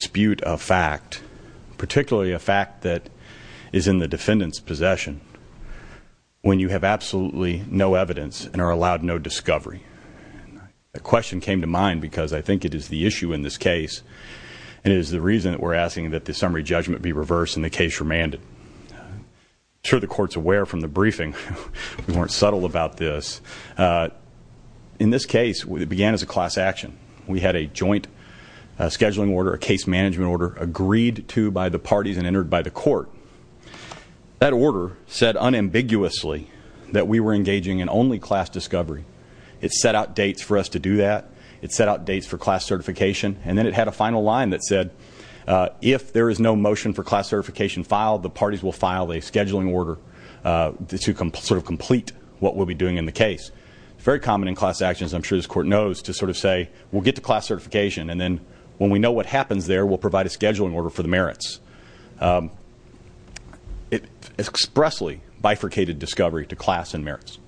Dispute a fact, particularly a fact that is in the defendant's possession, when you have absolutely no evidence and are allowed no discovery. The question came to mind because I think it is the issue in this case, and it is the reason that we're asking that the summary judgment be reversed and the case remanded. I'm sure the Court's aware from the briefing, we weren't subtle about this. In this case, it began as a class action. We had a joint scheduling order, a case management order, agreed to by the parties and entered by the Court. That order said unambiguously that we were engaging in only class discovery. It set out dates for us to do that. It set out dates for class certification, and then it had a final line that said, if there is no motion for class certification filed, the parties will file a scheduling order to sort of complete what we'll be doing in the case. Very common in class actions, I'm sure this Court knows, to sort of say, we'll get to class certification, and then when we know what happens there, we'll provide a scheduling order for the merits. It expressly bifurcated discovery to class and merits.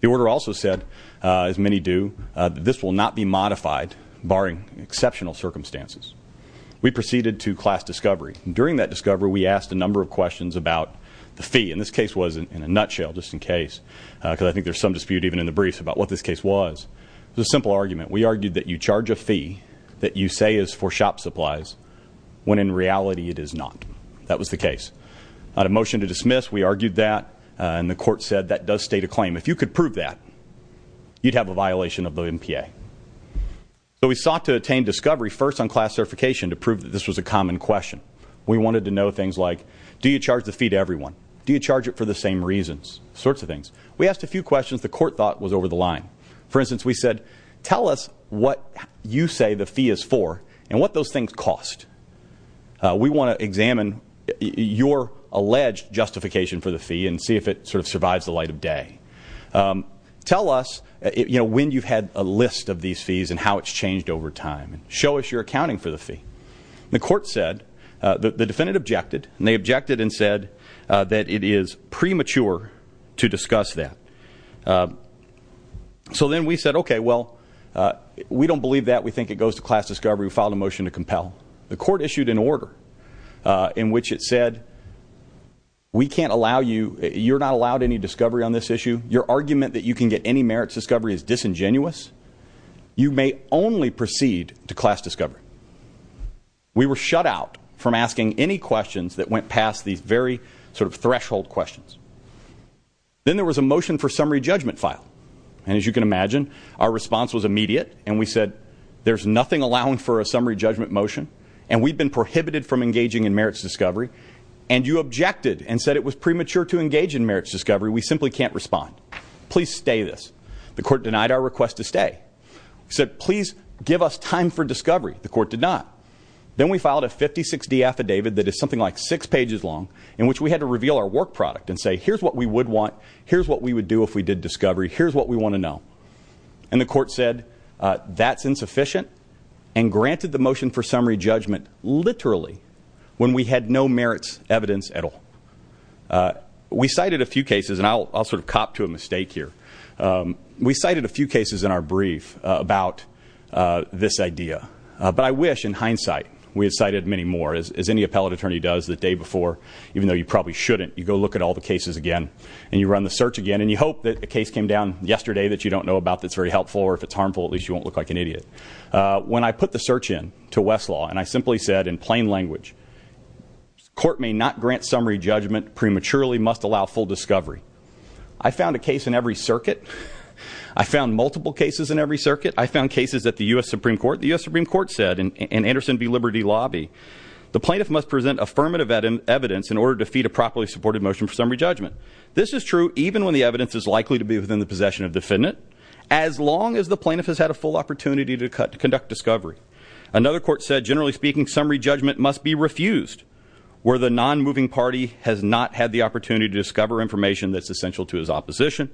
The order also said, as many do, that this will not be modified, barring exceptional circumstances. We proceeded to class discovery. During that discovery, we asked a number of questions about the fee. And this case was in a nutshell, just in case, because I think there's some dispute even in the briefs about what this case was. It was a simple argument. We argued that you charge a fee that you say is for shop supplies, when in reality it is not. That was the case. On a motion to dismiss, we argued that, and the Court said that does state a claim. If you could prove that, you'd have a violation of the MPA. So we sought to attain discovery first on class certification to prove that this was a common question. We wanted to know things like, do you charge the fee to everyone? Do you charge it for the same reasons? Sorts of things. We asked a few questions the Court thought was over the line. For instance, we said, tell us what you say the fee is for and what those things cost. We want to examine your alleged justification for the fee and see if it sort of survives the light of day. Tell us when you've had a list of these fees and how it's changed over time. Show us your accounting for the fee. The Court said, the defendant objected, and they objected and said that it is premature to discuss that. So then we said, okay, well, we don't believe that. We think it goes to class discovery. We filed a motion to compel. The Court issued an order in which it said, we can't allow you, you're not allowed any discovery on this issue. Your argument that you can get any merits discovery is disingenuous. You may only proceed to class discovery. We were shut out from asking any questions that went past these very sort of threshold questions. Then there was a motion for summary judgment file. And as you can imagine, our response was immediate. And we said, there's nothing allowing for a summary judgment motion. And we've been prohibited from engaging in merits discovery. And you objected and said it was premature to engage in merits discovery. We simply can't respond. Please stay this. The Court denied our request to stay. We said, please give us time for discovery. The Court did not. Then we filed a 56D affidavit that is something like six pages long in which we had to reveal our work product and say, here's what we would want. Here's what we would do if we did discovery. Here's what we want to know. And the Court said that's insufficient and granted the motion for summary judgment literally when we had no merits evidence at all. We cited a few cases, and I'll sort of cop to a mistake here. We cited a few cases in our brief about this idea. But I wish, in hindsight, we had cited many more, as any appellate attorney does the day before, even though you probably shouldn't. You go look at all the cases again. And you run the search again. And you hope that a case came down yesterday that you don't know about that's very helpful. Or if it's harmful, at least you won't look like an idiot. When I put the search in to Westlaw, and I simply said in plain language, court may not grant summary judgment prematurely, must allow full discovery. I found a case in every circuit. I found multiple cases in every circuit. I found cases at the U.S. Supreme Court. The U.S. Supreme Court said in Anderson v. Liberty Lobby, the plaintiff must present affirmative evidence in order to feed a properly supported motion for summary judgment. This is true even when the evidence is likely to be within the possession of the defendant, as long as the plaintiff has had a full opportunity to conduct discovery. Another court said, generally speaking, summary judgment must be refused, where the non-moving party has not had the opportunity to discover information that's essential to his opposition.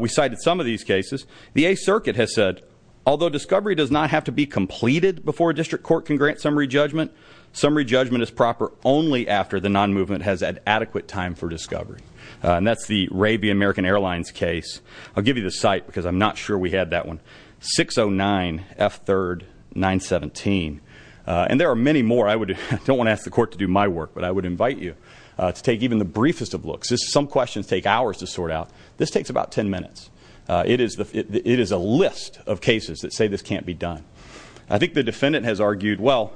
We cited some of these cases. The 8th Circuit has said, although discovery does not have to be completed before a district court can grant summary judgment, summary judgment is proper only after the non-movement has had adequate time for discovery. And that's the Arabian American Airlines case. I'll give you the site, because I'm not sure we had that one. 609 F3rd 917. And there are many more. I don't want to ask the court to do my work, but I would invite you to take even the briefest of looks. Some questions take hours to sort out. This takes about ten minutes. It is a list of cases that say this can't be done. I think the defendant has argued, well,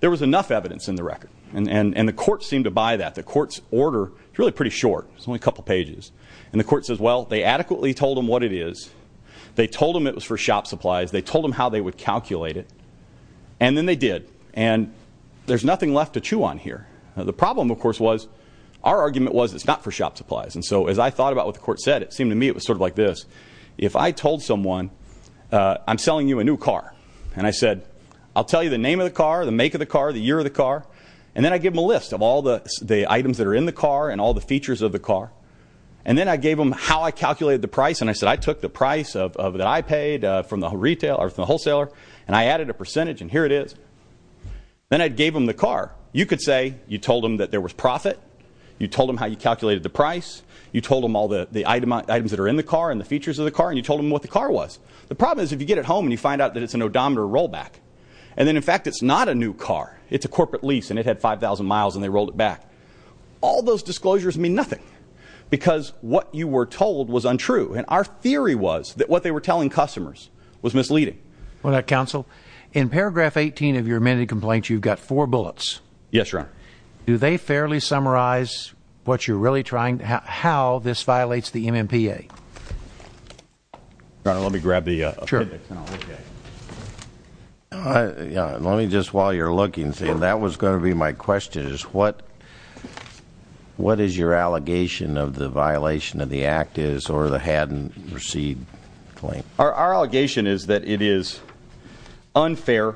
there was enough evidence in the record. And the court seemed to buy that. The court's order is really pretty short. It's only a couple pages. And the court says, well, they adequately told them what it is. They told them it was for shop supplies. They told them how they would calculate it. And then they did. And there's nothing left to chew on here. The problem, of course, was our argument was it's not for shop supplies. And so as I thought about what the court said, it seemed to me it was sort of like this. If I told someone, I'm selling you a new car. And I said, I'll tell you the name of the car, the make of the car, the year of the car. And then I give them a list of all the items that are in the car and all the features of the car. And then I gave them how I calculated the price. And I said, I took the price that I paid from the wholesaler, and I added a percentage, and here it is. Then I gave them the car. You could say you told them that there was profit. You told them how you calculated the price. You told them all the items that are in the car and the features of the car. And you told them what the car was. The problem is if you get it home and you find out that it's an odometer rollback, and then, in fact, it's not a new car, it's a corporate lease, and it had 5,000 miles and they rolled it back, all those disclosures mean nothing because what you were told was untrue. And our theory was that what they were telling customers was misleading. Counsel, in paragraph 18 of your amended complaint, you've got four bullets. Yes, Your Honor. Do they fairly summarize what you're really trying to do, how this violates the MMPA? Your Honor, let me grab the appendix and I'll look at it. Sure. Let me just, while you're looking, see if that was going to be my question, is what is your allegation of the violation of the act is or the hadn't received claim? Our allegation is that it is unfair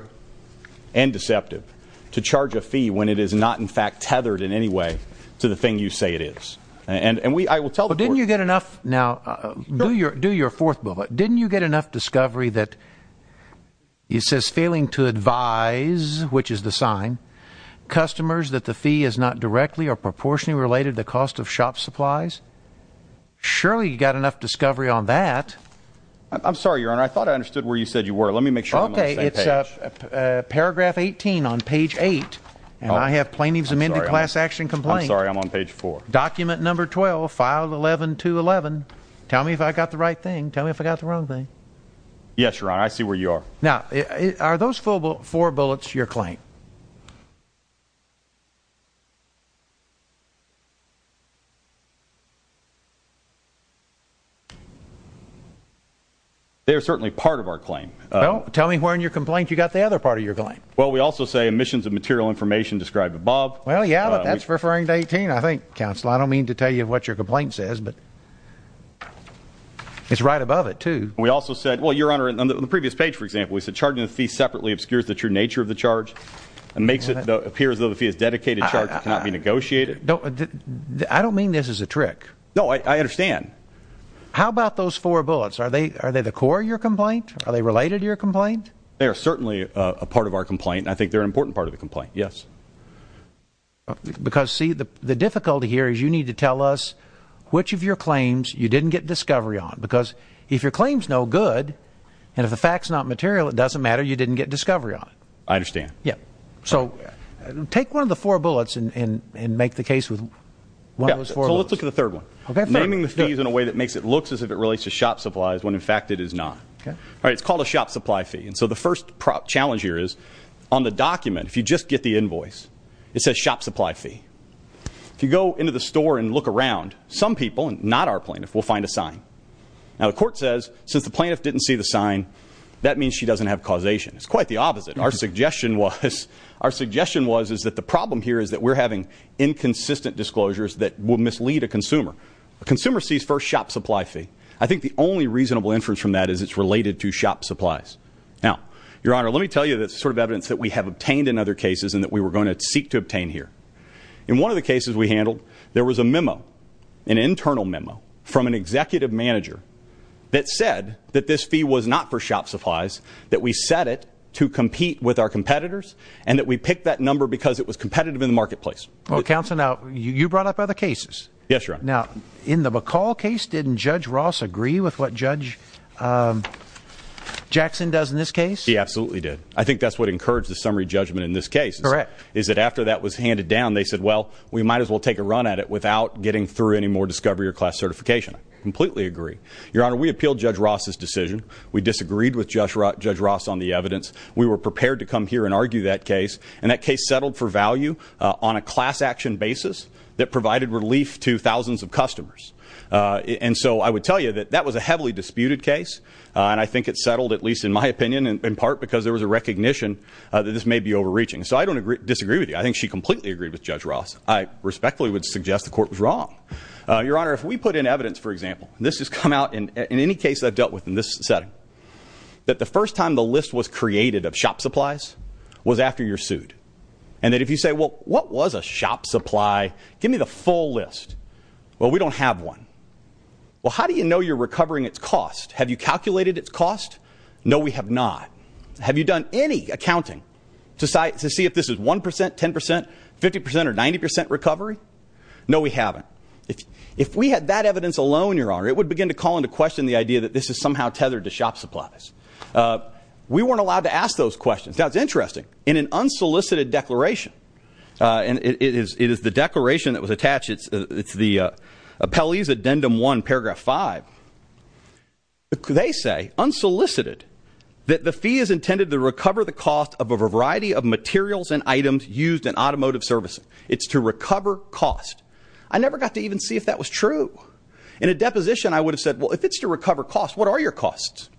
and deceptive to charge a fee when it is not, in fact, tethered in any way to the thing you say it is. And I will tell the court. But didn't you get enough? Now, do your fourth bullet. Didn't you get enough discovery that it says failing to advise, which is the sign, customers that the fee is not directly or proportionally related to cost of shop supplies? Surely you got enough discovery on that. I'm sorry, Your Honor. I thought I understood where you said you were. Let me make sure I'm on the same page. Okay. It's paragraph 18 on page 8. And I have plaintiff's amended class action complaint. I'm sorry. I'm on page 4. Document number 12, file 11211. Tell me if I got the right thing. Tell me if I got the wrong thing. Yes, Your Honor. I see where you are. Now, are those four bullets your claim? They are certainly part of our claim. Tell me where in your complaint you got the other part of your claim. Well, we also say emissions of material information described above. Well, yeah, but that's referring to 18, I think, counsel. I don't mean to tell you what your complaint says, but it's right above it, too. We also said, well, Your Honor, on the previous page, for example, we said charging the fee separately obscures the true nature of the charge and makes it appear as though the fee is dedicated to a charge that cannot be negotiated. I don't mean this as a trick. No, I understand. How about those four bullets? Are they the core of your complaint? Are they related to your complaint? They are certainly a part of our complaint, and I think they're an important part of the complaint, yes. Because, see, the difficulty here is you need to tell us which of your claims you didn't get discovery on. Because if your claim's no good and if the fact's not material, it doesn't matter. You didn't get discovery on it. I understand. Yeah. So take one of the four bullets and make the case with one of those four bullets. Yeah, so let's look at the third one. Okay, fair enough. Naming the fees in a way that makes it look as if it relates to shop supplies when, in fact, it is not. Okay. All right, it's called a shop supply fee. And so the first challenge here is on the document, if you just get the invoice, it says shop supply fee. If you go into the store and look around, some people, not our plaintiff, will find a sign. Now, the court says since the plaintiff didn't see the sign, that means she doesn't have causation. It's quite the opposite. Our suggestion was that the problem here is that we're having inconsistent disclosures that will mislead a consumer. A consumer sees first shop supply fee. I think the only reasonable inference from that is it's related to shop supplies. Now, Your Honor, let me tell you the sort of evidence that we have obtained in other cases and that we were going to seek to obtain here. In one of the cases we handled, there was a memo, an internal memo, from an executive manager that said that this fee was not for shop supplies, that we set it to compete with our competitors, and that we picked that number because it was competitive in the marketplace. Well, Counselor, now, you brought up other cases. Yes, Your Honor. Now, in the McCall case, didn't Judge Ross agree with what Judge Jackson does in this case? He absolutely did. I think that's what encouraged the summary judgment in this case. Correct. Is that after that was handed down, they said, well, we might as well take a run at it without getting through any more discovery or class certification. I completely agree. Your Honor, we appealed Judge Ross's decision. We disagreed with Judge Ross on the evidence. We were prepared to come here and argue that case, and that case settled for value on a class action basis that provided relief to thousands of customers. And so I would tell you that that was a heavily disputed case, and I think it settled, at least in my opinion, in part because there was a recognition that this may be overreaching. So I don't disagree with you. I think she completely agreed with Judge Ross. I respectfully would suggest the court was wrong. Your Honor, if we put in evidence, for example, and this has come out in any case I've dealt with in this setting, that the first time the list was created of shop supplies was after you're sued. And that if you say, well, what was a shop supply? Give me the full list. Well, we don't have one. Well, how do you know you're recovering its cost? Have you calculated its cost? No, we have not. Have you done any accounting to see if this is 1%, 10%, 50%, or 90% recovery? No, we haven't. If we had that evidence alone, Your Honor, it would begin to call into question the idea that this is somehow tethered to shop supplies. We weren't allowed to ask those questions. Now, it's interesting. In an unsolicited declaration, and it is the declaration that was attached. It's the Appellee's Addendum 1, Paragraph 5. They say, unsolicited, that the fee is intended to recover the cost of a variety of materials and items used in automotive servicing. It's to recover cost. I never got to even see if that was true. In a deposition, I would have said, well, if it's to recover cost, what are your costs?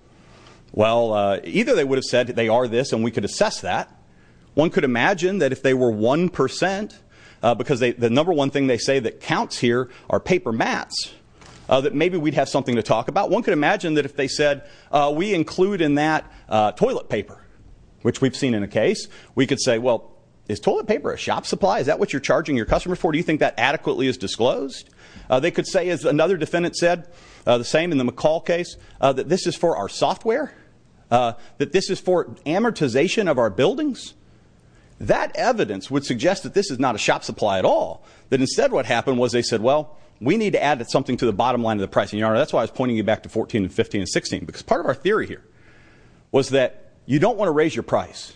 Well, either they would have said that they are this and we could assess that. One could imagine that if they were 1%, because the number one thing they say that counts here are paper mats, that maybe we'd have something to talk about. One could imagine that if they said, we include in that toilet paper, which we've seen in a case, we could say, well, is toilet paper a shop supply? Is that what you're charging your customer for? Do you think that adequately is disclosed? They could say, as another defendant said, the same in the McCall case, that this is for our software, that this is for amortization of our buildings. That evidence would suggest that this is not a shop supply at all, that instead what happened was they said, well, we need to add something to the bottom line of the pricing. Your Honor, that's why I was pointing you back to 14 and 15 and 16, because part of our theory here was that you don't want to raise your price.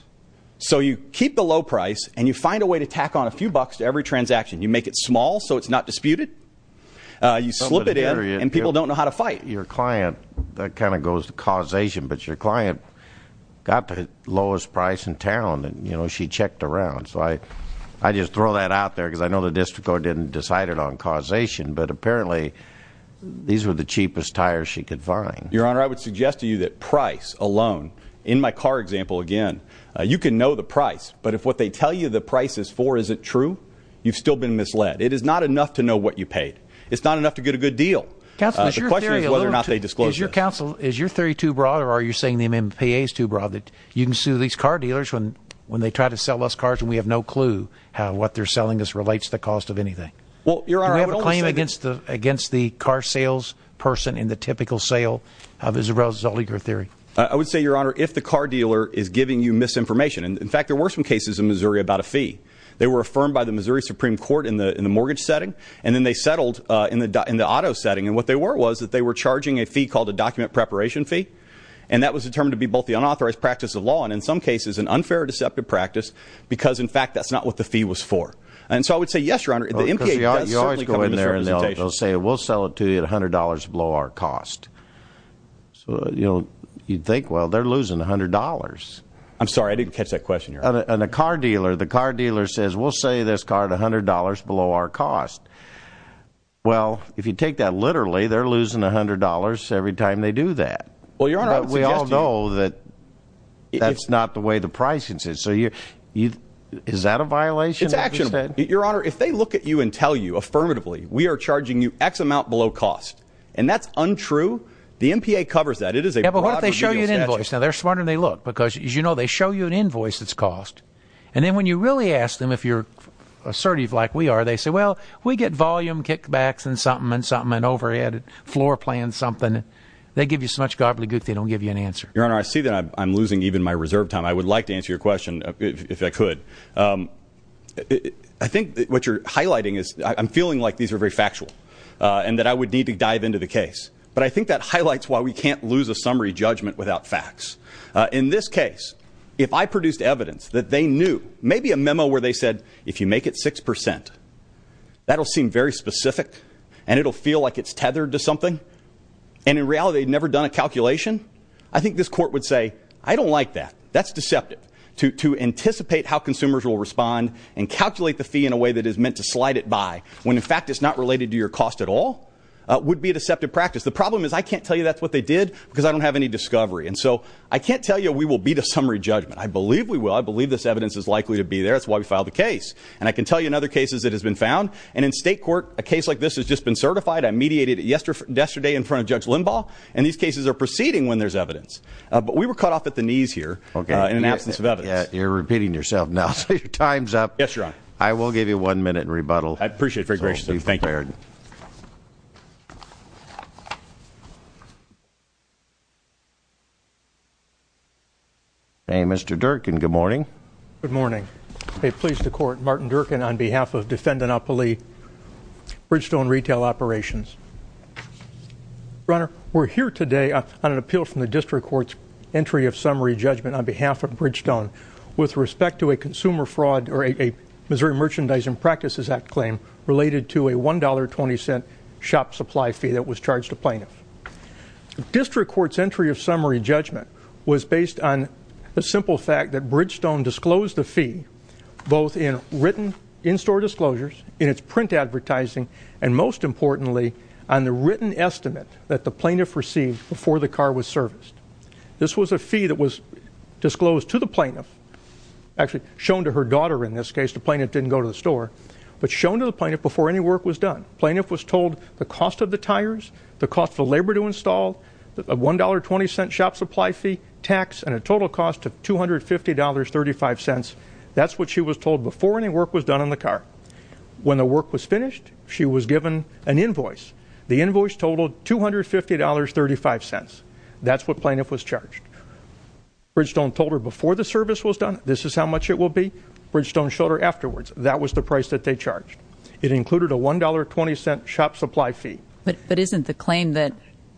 So you keep the low price, and you find a way to tack on a few bucks to every transaction. You make it small so it's not disputed. You slip it in, and people don't know how to fight. Your client, that kind of goes to causation, but your client got the lowest price in town, and she checked around. So I just throw that out there, because I know the district court didn't decide it on causation, but apparently these were the cheapest tires she could find. Your Honor, I would suggest to you that price alone, in my car example again, you can know the price, but if what they tell you the price is for isn't true, you've still been misled. It is not enough to know what you paid. It's not enough to get a good deal. The question is whether or not they disclose this. Is your theory too broad, or are you saying the MPA is too broad, that you can sue these car dealers when they try to sell us cars, and we have no clue how what they're selling us relates to the cost of anything? Do we have a claim against the car sales person in the typical sale of Isabel Zolliger theory? I would say, Your Honor, if the car dealer is giving you misinformation. In fact, there were some cases in Missouri about a fee. They were affirmed by the Missouri Supreme Court in the mortgage setting, and then they settled in the auto setting. And what they were was that they were charging a fee called a document preparation fee, and that was determined to be both the unauthorized practice of law, and in some cases an unfair or deceptive practice, because in fact that's not what the fee was for. And so I would say, yes, Your Honor, the MPA does certainly come into this representation. Because you always go in there and they'll say, we'll sell it to you at $100 below our cost. So, you know, you'd think, well, they're losing $100. I'm sorry, I didn't catch that question, Your Honor. And a car dealer, the car dealer says, we'll sell you this car at $100 below our cost. Well, if you take that literally, they're losing $100 every time they do that. Well, Your Honor, I would suggest to you. But we all know that that's not the way the pricing is. So is that a violation? It's actionable. Your Honor, if they look at you and tell you affirmatively, we are charging you X amount below cost, and that's untrue, the MPA covers that. It is a broad remedial statute. Yeah, but what if they show you an invoice? Now, they're smarter than they look, because, as you know, they show you an invoice that's cost. And then when you really ask them, if you're assertive like we are, they say, well, we get volume kickbacks and something and something, and overhead, floor plans, something. They give you so much gobbledygook they don't give you an answer. Your Honor, I see that I'm losing even my reserve time. I would like to answer your question, if I could. I think what you're highlighting is I'm feeling like these are very factual and that I would need to dive into the case. But I think that highlights why we can't lose a summary judgment without facts. In this case, if I produced evidence that they knew, maybe a memo where they said, if you make it 6%, that'll seem very specific. And it'll feel like it's tethered to something. And in reality, they'd never done a calculation. I think this court would say, I don't like that. That's deceptive. To anticipate how consumers will respond and calculate the fee in a way that is meant to slide it by, when in fact it's not related to your cost at all, would be a deceptive practice. The problem is I can't tell you that's what they did, because I don't have any discovery. And so I can't tell you we will beat a summary judgment. I believe we will. I believe this evidence is likely to be there. That's why we filed the case. And I can tell you in other cases it has been found. And in state court, a case like this has just been certified. I mediated it yesterday in front of Judge Limbaugh. And these cases are proceeding when there's evidence. But we were cut off at the knees here in an absence of evidence. You're repeating yourself now. So your time's up. Yes, Your Honor. I will give you one minute in rebuttal. I appreciate it. Very gracious of you. Thank you. Mr. Durkin, good morning. Good morning. I'm pleased to court Martin Durkin on behalf of Defendanopoly Bridgestone Retail Operations. Your Honor, we're here today on an appeal from the district court's entry of summary judgment on behalf of Bridgestone with respect to a consumer fraud or a Missouri Merchandising Practices Act claim related to a $1.20 shop supply fee that was charged to plaintiffs. District court's entry of summary judgment was based on the simple fact that Bridgestone disclosed the fee both in written in-store disclosures, in its print advertising, and most importantly on the written estimate that the plaintiff received before the car was serviced. This was a fee that was disclosed to the plaintiff, actually shown to her daughter in this case. The plaintiff didn't go to the store. But shown to the plaintiff before any work was done. Plaintiff was told the cost of the tires, the cost of the labor to install, a $1.20 shop supply fee, tax, and a total cost of $250.35. That's what she was told before any work was done on the car. When the work was finished, she was given an invoice. The invoice totaled $250.35. That's what plaintiff was charged. Bridgestone told her before the service was done, this is how much it will be. Bridgestone showed her afterwards. That was the price that they charged. It included a $1.20 shop supply fee. But isn't the claim that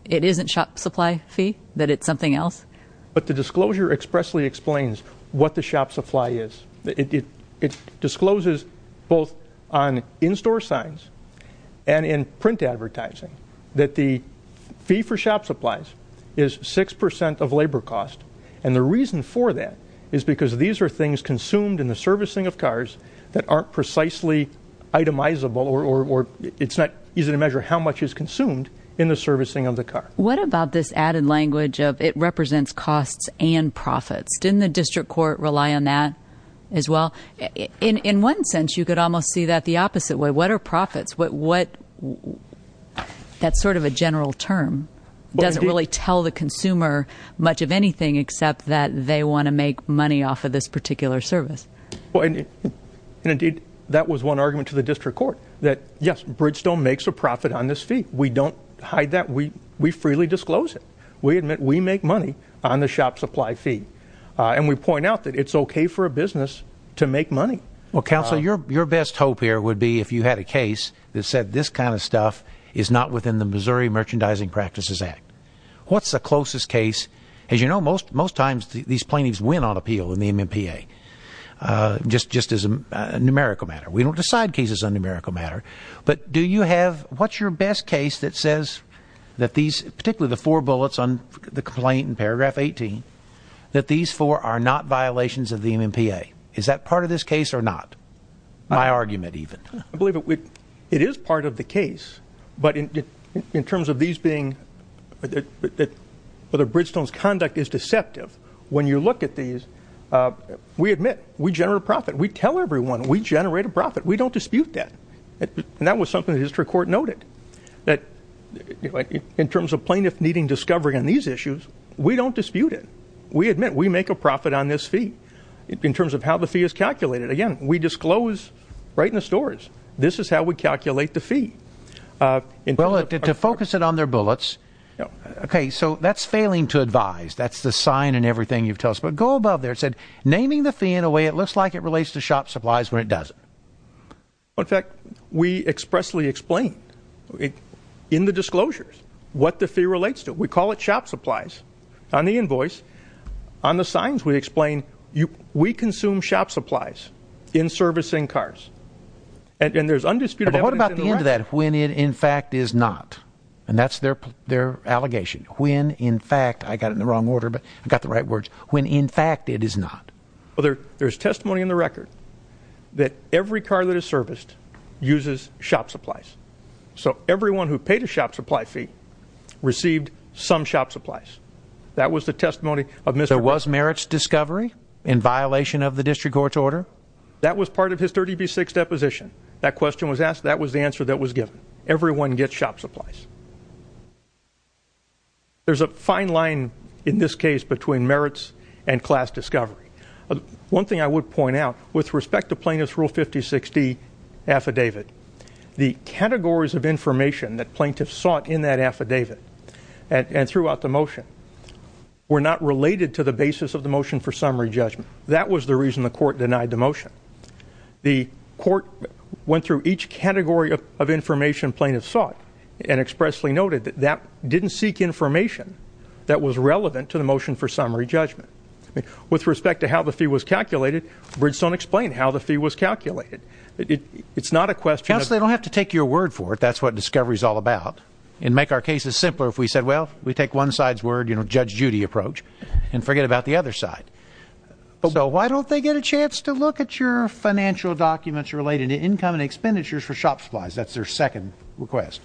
it isn't shop supply fee, that it's something else? But the disclosure expressly explains what the shop supply is. It discloses both on in-store signs and in print advertising that the fee for shop supplies is 6% of labor cost. And the reason for that is because these are things consumed in the servicing of cars that aren't precisely itemizable or it's not easy to measure how much is consumed in the servicing of the car. What about this added language of it represents costs and profits? Didn't the district court rely on that as well? In one sense, you could almost see that the opposite way. What are profits? That's sort of a general term. It doesn't really tell the consumer much of anything except that they want to make money off of this particular service. Indeed, that was one argument to the district court that, yes, Bridgestone makes a profit on this fee. We don't hide that. We freely disclose it. We admit we make money on the shop supply fee. And we point out that it's okay for a business to make money. Well, counsel, your best hope here would be if you had a case that said this kind of stuff is not within the Missouri Merchandising Practices Act. What's the closest case? As you know, most times these plaintiffs win on appeal in the MMPA, just as a numerical matter. We don't decide cases on a numerical matter. But do you have what's your best case that says that these, particularly the four bullets on the complaint in paragraph 18, that these four are not violations of the MMPA? Is that part of this case or not? My argument, even. I believe it is part of the case. But in terms of these being, whether Bridgestone's conduct is deceptive, when you look at these, we admit we generate a profit. We tell everyone we generate a profit. We don't dispute that. And that was something the district court noted, that in terms of plaintiffs needing discovery on these issues, we don't dispute it. We admit we make a profit on this fee in terms of how the fee is calculated. Again, we disclose right in the stores. This is how we calculate the fee. Well, to focus it on their bullets, okay, so that's failing to advise. That's the sign and everything you've told us. But go above there. It said, naming the fee in a way it looks like it relates to shop supplies when it doesn't. In fact, we expressly explain in the disclosures what the fee relates to. We call it shop supplies on the invoice. On the signs we explain we consume shop supplies in servicing cars. And there's undisputed evidence in the record. But what about the end of that, when it in fact is not? And that's their allegation. When in fact, I got it in the wrong order, but I got the right words, when in fact it is not. Well, there's testimony in the record that every car that is serviced uses shop supplies. So everyone who paid a shop supply fee received some shop supplies. That was the testimony of Mr. There was merits discovery in violation of the district court's order? That was part of his 30B6 deposition. That question was asked. That was the answer that was given. Everyone gets shop supplies. There's a fine line in this case between merits and class discovery. One thing I would point out, with respect to Plaintiff's Rule 5060 affidavit, the categories of information that plaintiffs sought in that affidavit and throughout the motion were not related to the basis of the motion for summary judgment. That was the reason the court denied the motion. The court went through each category of information plaintiffs sought and expressly noted that that didn't seek information that was relevant to the motion for summary judgment. With respect to how the fee was calculated, Bridgestone explained how the fee was calculated. It's not a question of- Counsel, they don't have to take your word for it. That's what discovery is all about. And make our cases simpler if we said, well, we take one side's word, you know, Judge Judy approach, and forget about the other side. So why don't they get a chance to look at your financial documents related to income and expenditures for shop supplies? That's their second request.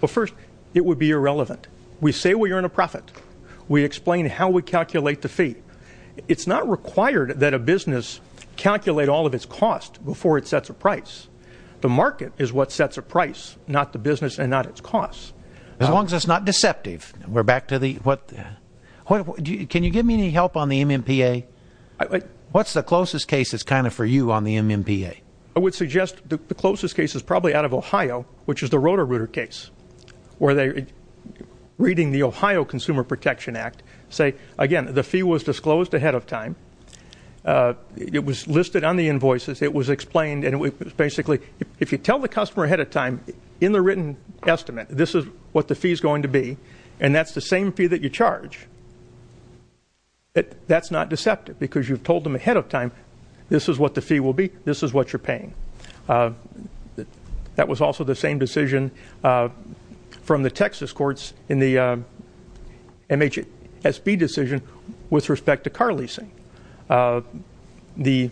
Well, first, it would be irrelevant. We say we earn a profit. We explain how we calculate the fee. It's not required that a business calculate all of its cost before it sets a price. The market is what sets a price, not the business and not its cost. As long as it's not deceptive. We're back to the-can you give me any help on the MMPA? What's the closest case that's kind of for you on the MMPA? I would suggest the closest case is probably out of Ohio, which is the Roto-Rooter case, where they're reading the Ohio Consumer Protection Act, say, again, the fee was disclosed ahead of time. It was listed on the invoices. It was explained, and it was basically if you tell the customer ahead of time, in the written estimate, this is what the fee is going to be, and that's the same fee that you charge, that's not deceptive because you've told them ahead of time this is what the fee will be, this is what you're paying. That was also the same decision from the Texas courts in the MHSB decision with respect to car leasing. The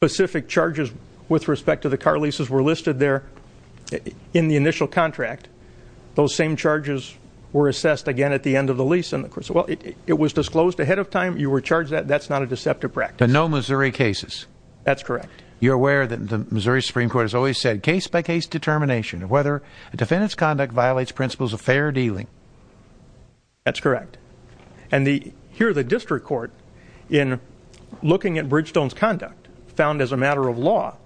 specific charges with respect to the car leases were listed there in the initial contract. Those same charges were assessed again at the end of the lease. Well, it was disclosed ahead of time, you were charged that, that's not a deceptive practice. But no Missouri cases. That's correct. You're aware that the Missouri Supreme Court has always said case by case determination of whether a defendant's conduct violates principles of fair dealing. That's correct. And here the district court, in looking at Bridgestone's conduct, found as a matter of law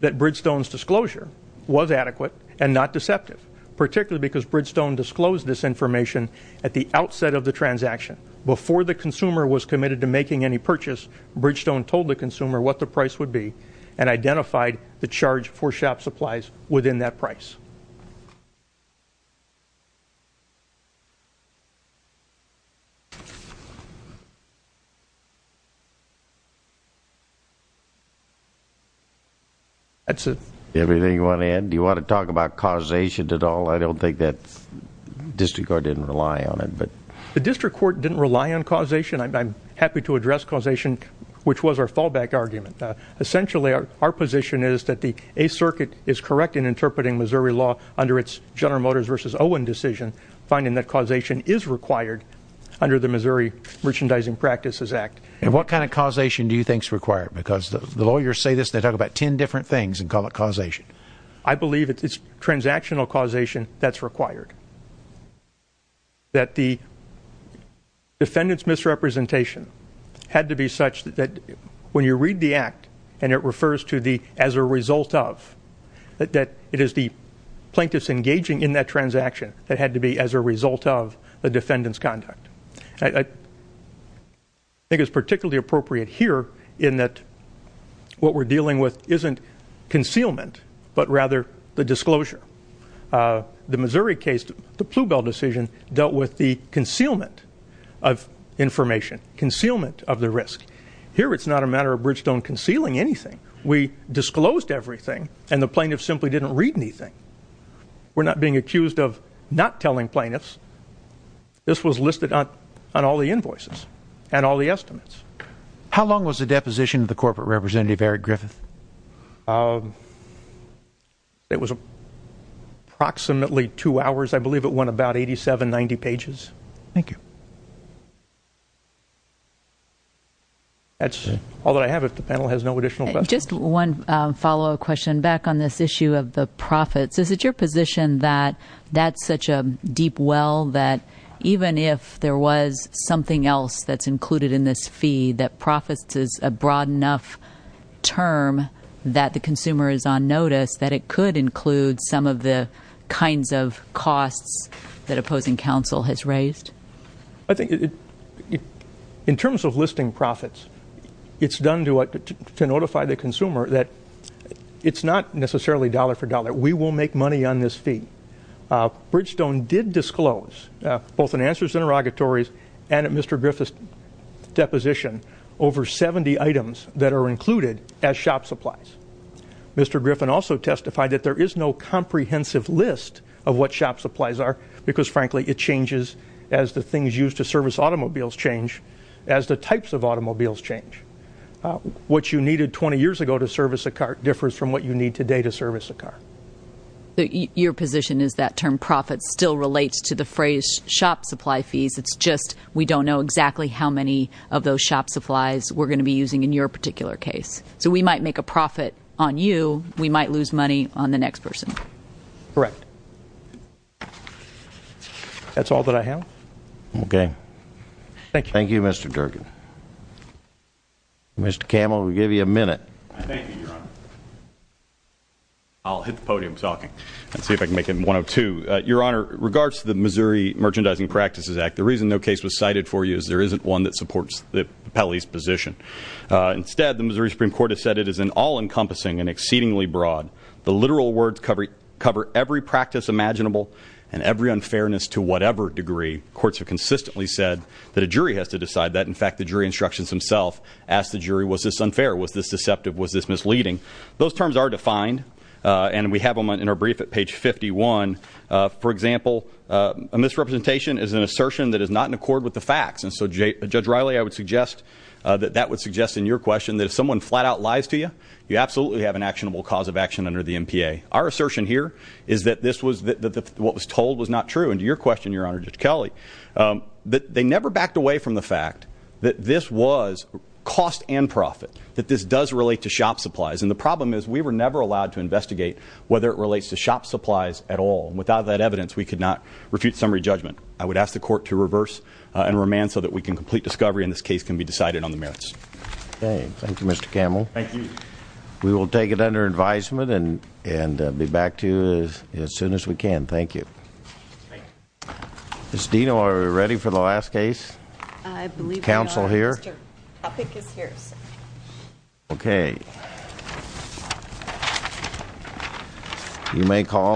that Bridgestone's disclosure was adequate and not deceptive, particularly because Bridgestone disclosed this information at the outset of the transaction. Before the consumer was committed to making any purchase, Bridgestone told the consumer what the price would be and identified the charge for shop supplies within that price. That's it. Anything you want to add? Do you want to talk about causation at all? I don't think that district court didn't rely on it. The district court didn't rely on causation. I'm happy to address causation, which was our fallback argument. Essentially, our position is that the 8th Circuit is correct in interpreting Missouri law under its General Motors versus Owen decision, finding that causation is required under the Missouri Merchandising Practices Act. And what kind of causation do you think is required? Because the lawyers say this, they talk about ten different things and call it causation. I believe it's transactional causation that's required. That the defendant's misrepresentation had to be such that when you read the act and it refers to the as a result of, that it is the plaintiff's engaging in that transaction that had to be as a result of the defendant's conduct. I think it's particularly appropriate here in that what we're dealing with isn't concealment, but rather the disclosure. The Missouri case, the Ploubal decision, dealt with the concealment of information, concealment of the risk. Here it's not a matter of Bridgestone concealing anything. We disclosed everything, and the plaintiff simply didn't read anything. We're not being accused of not telling plaintiffs. This was listed on all the invoices and all the estimates. How long was the deposition of the corporate representative, Eric Griffith? It was approximately two hours. I believe it went about 87, 90 pages. Thank you. That's all that I have. If the panel has no additional questions. Just one follow-up question back on this issue of the profits. Is it your position that that's such a deep well that even if there was something else that's included in this fee, that profits is a broad enough term that the consumer is on notice that it could include some of the kinds of costs that opposing counsel has raised? I think in terms of listing profits, it's done to notify the consumer that it's not necessarily dollar for dollar. We will make money on this fee. Bridgestone did disclose, both in answers and interrogatories and at Mr. Griffith's deposition, over 70 items that are included as shop supplies. Mr. Griffin also testified that there is no comprehensive list of what shop supplies are because, frankly, it changes as the things used to service automobiles change, as the types of automobiles change. What you needed 20 years ago to service a car differs from what you need today to service a car. Your position is that term profits still relates to the phrase shop supply fees. It's just we don't know exactly how many of those shop supplies we're going to be using in your particular case. So we might make a profit on you. We might lose money on the next person. Correct. That's all that I have. Okay. Thank you, Mr. Durkin. Thank you, Your Honor. I'll hit the podium talking and see if I can make it 102. Your Honor, regards to the Missouri Merchandising Practices Act, the reason no case was cited for you is there isn't one that supports the appellee's position. Instead, the Missouri Supreme Court has said it is an all-encompassing and exceedingly broad. The literal words cover every practice imaginable and every unfairness to whatever degree. Courts have consistently said that a jury has to decide that. In fact, the jury instructions themselves ask the jury, was this unfair, was this deceptive, was this misleading? Those terms are defined, and we have them in our brief at page 51. For example, a misrepresentation is an assertion that is not in accord with the facts. And so, Judge Riley, I would suggest that that would suggest in your question that if someone flat-out lies to you, you absolutely have an actionable cause of action under the MPA. Our assertion here is that what was told was not true. And to your question, Your Honor, Judge Kelly, they never backed away from the fact that this was cost and profit, that this does relate to shop supplies. And the problem is we were never allowed to investigate whether it relates to shop supplies at all. Without that evidence, we could not refute summary judgment. I would ask the Court to reverse and remand so that we can complete discovery and this case can be decided on the merits. Okay. Thank you, Mr. Camel. Thank you. We will take it under advisement and be back to you as soon as we can. Thank you. Thank you. Ms. Dino, are we ready for the last case? I believe we are. Counsel here? Mr. Topic is here, sir. Okay.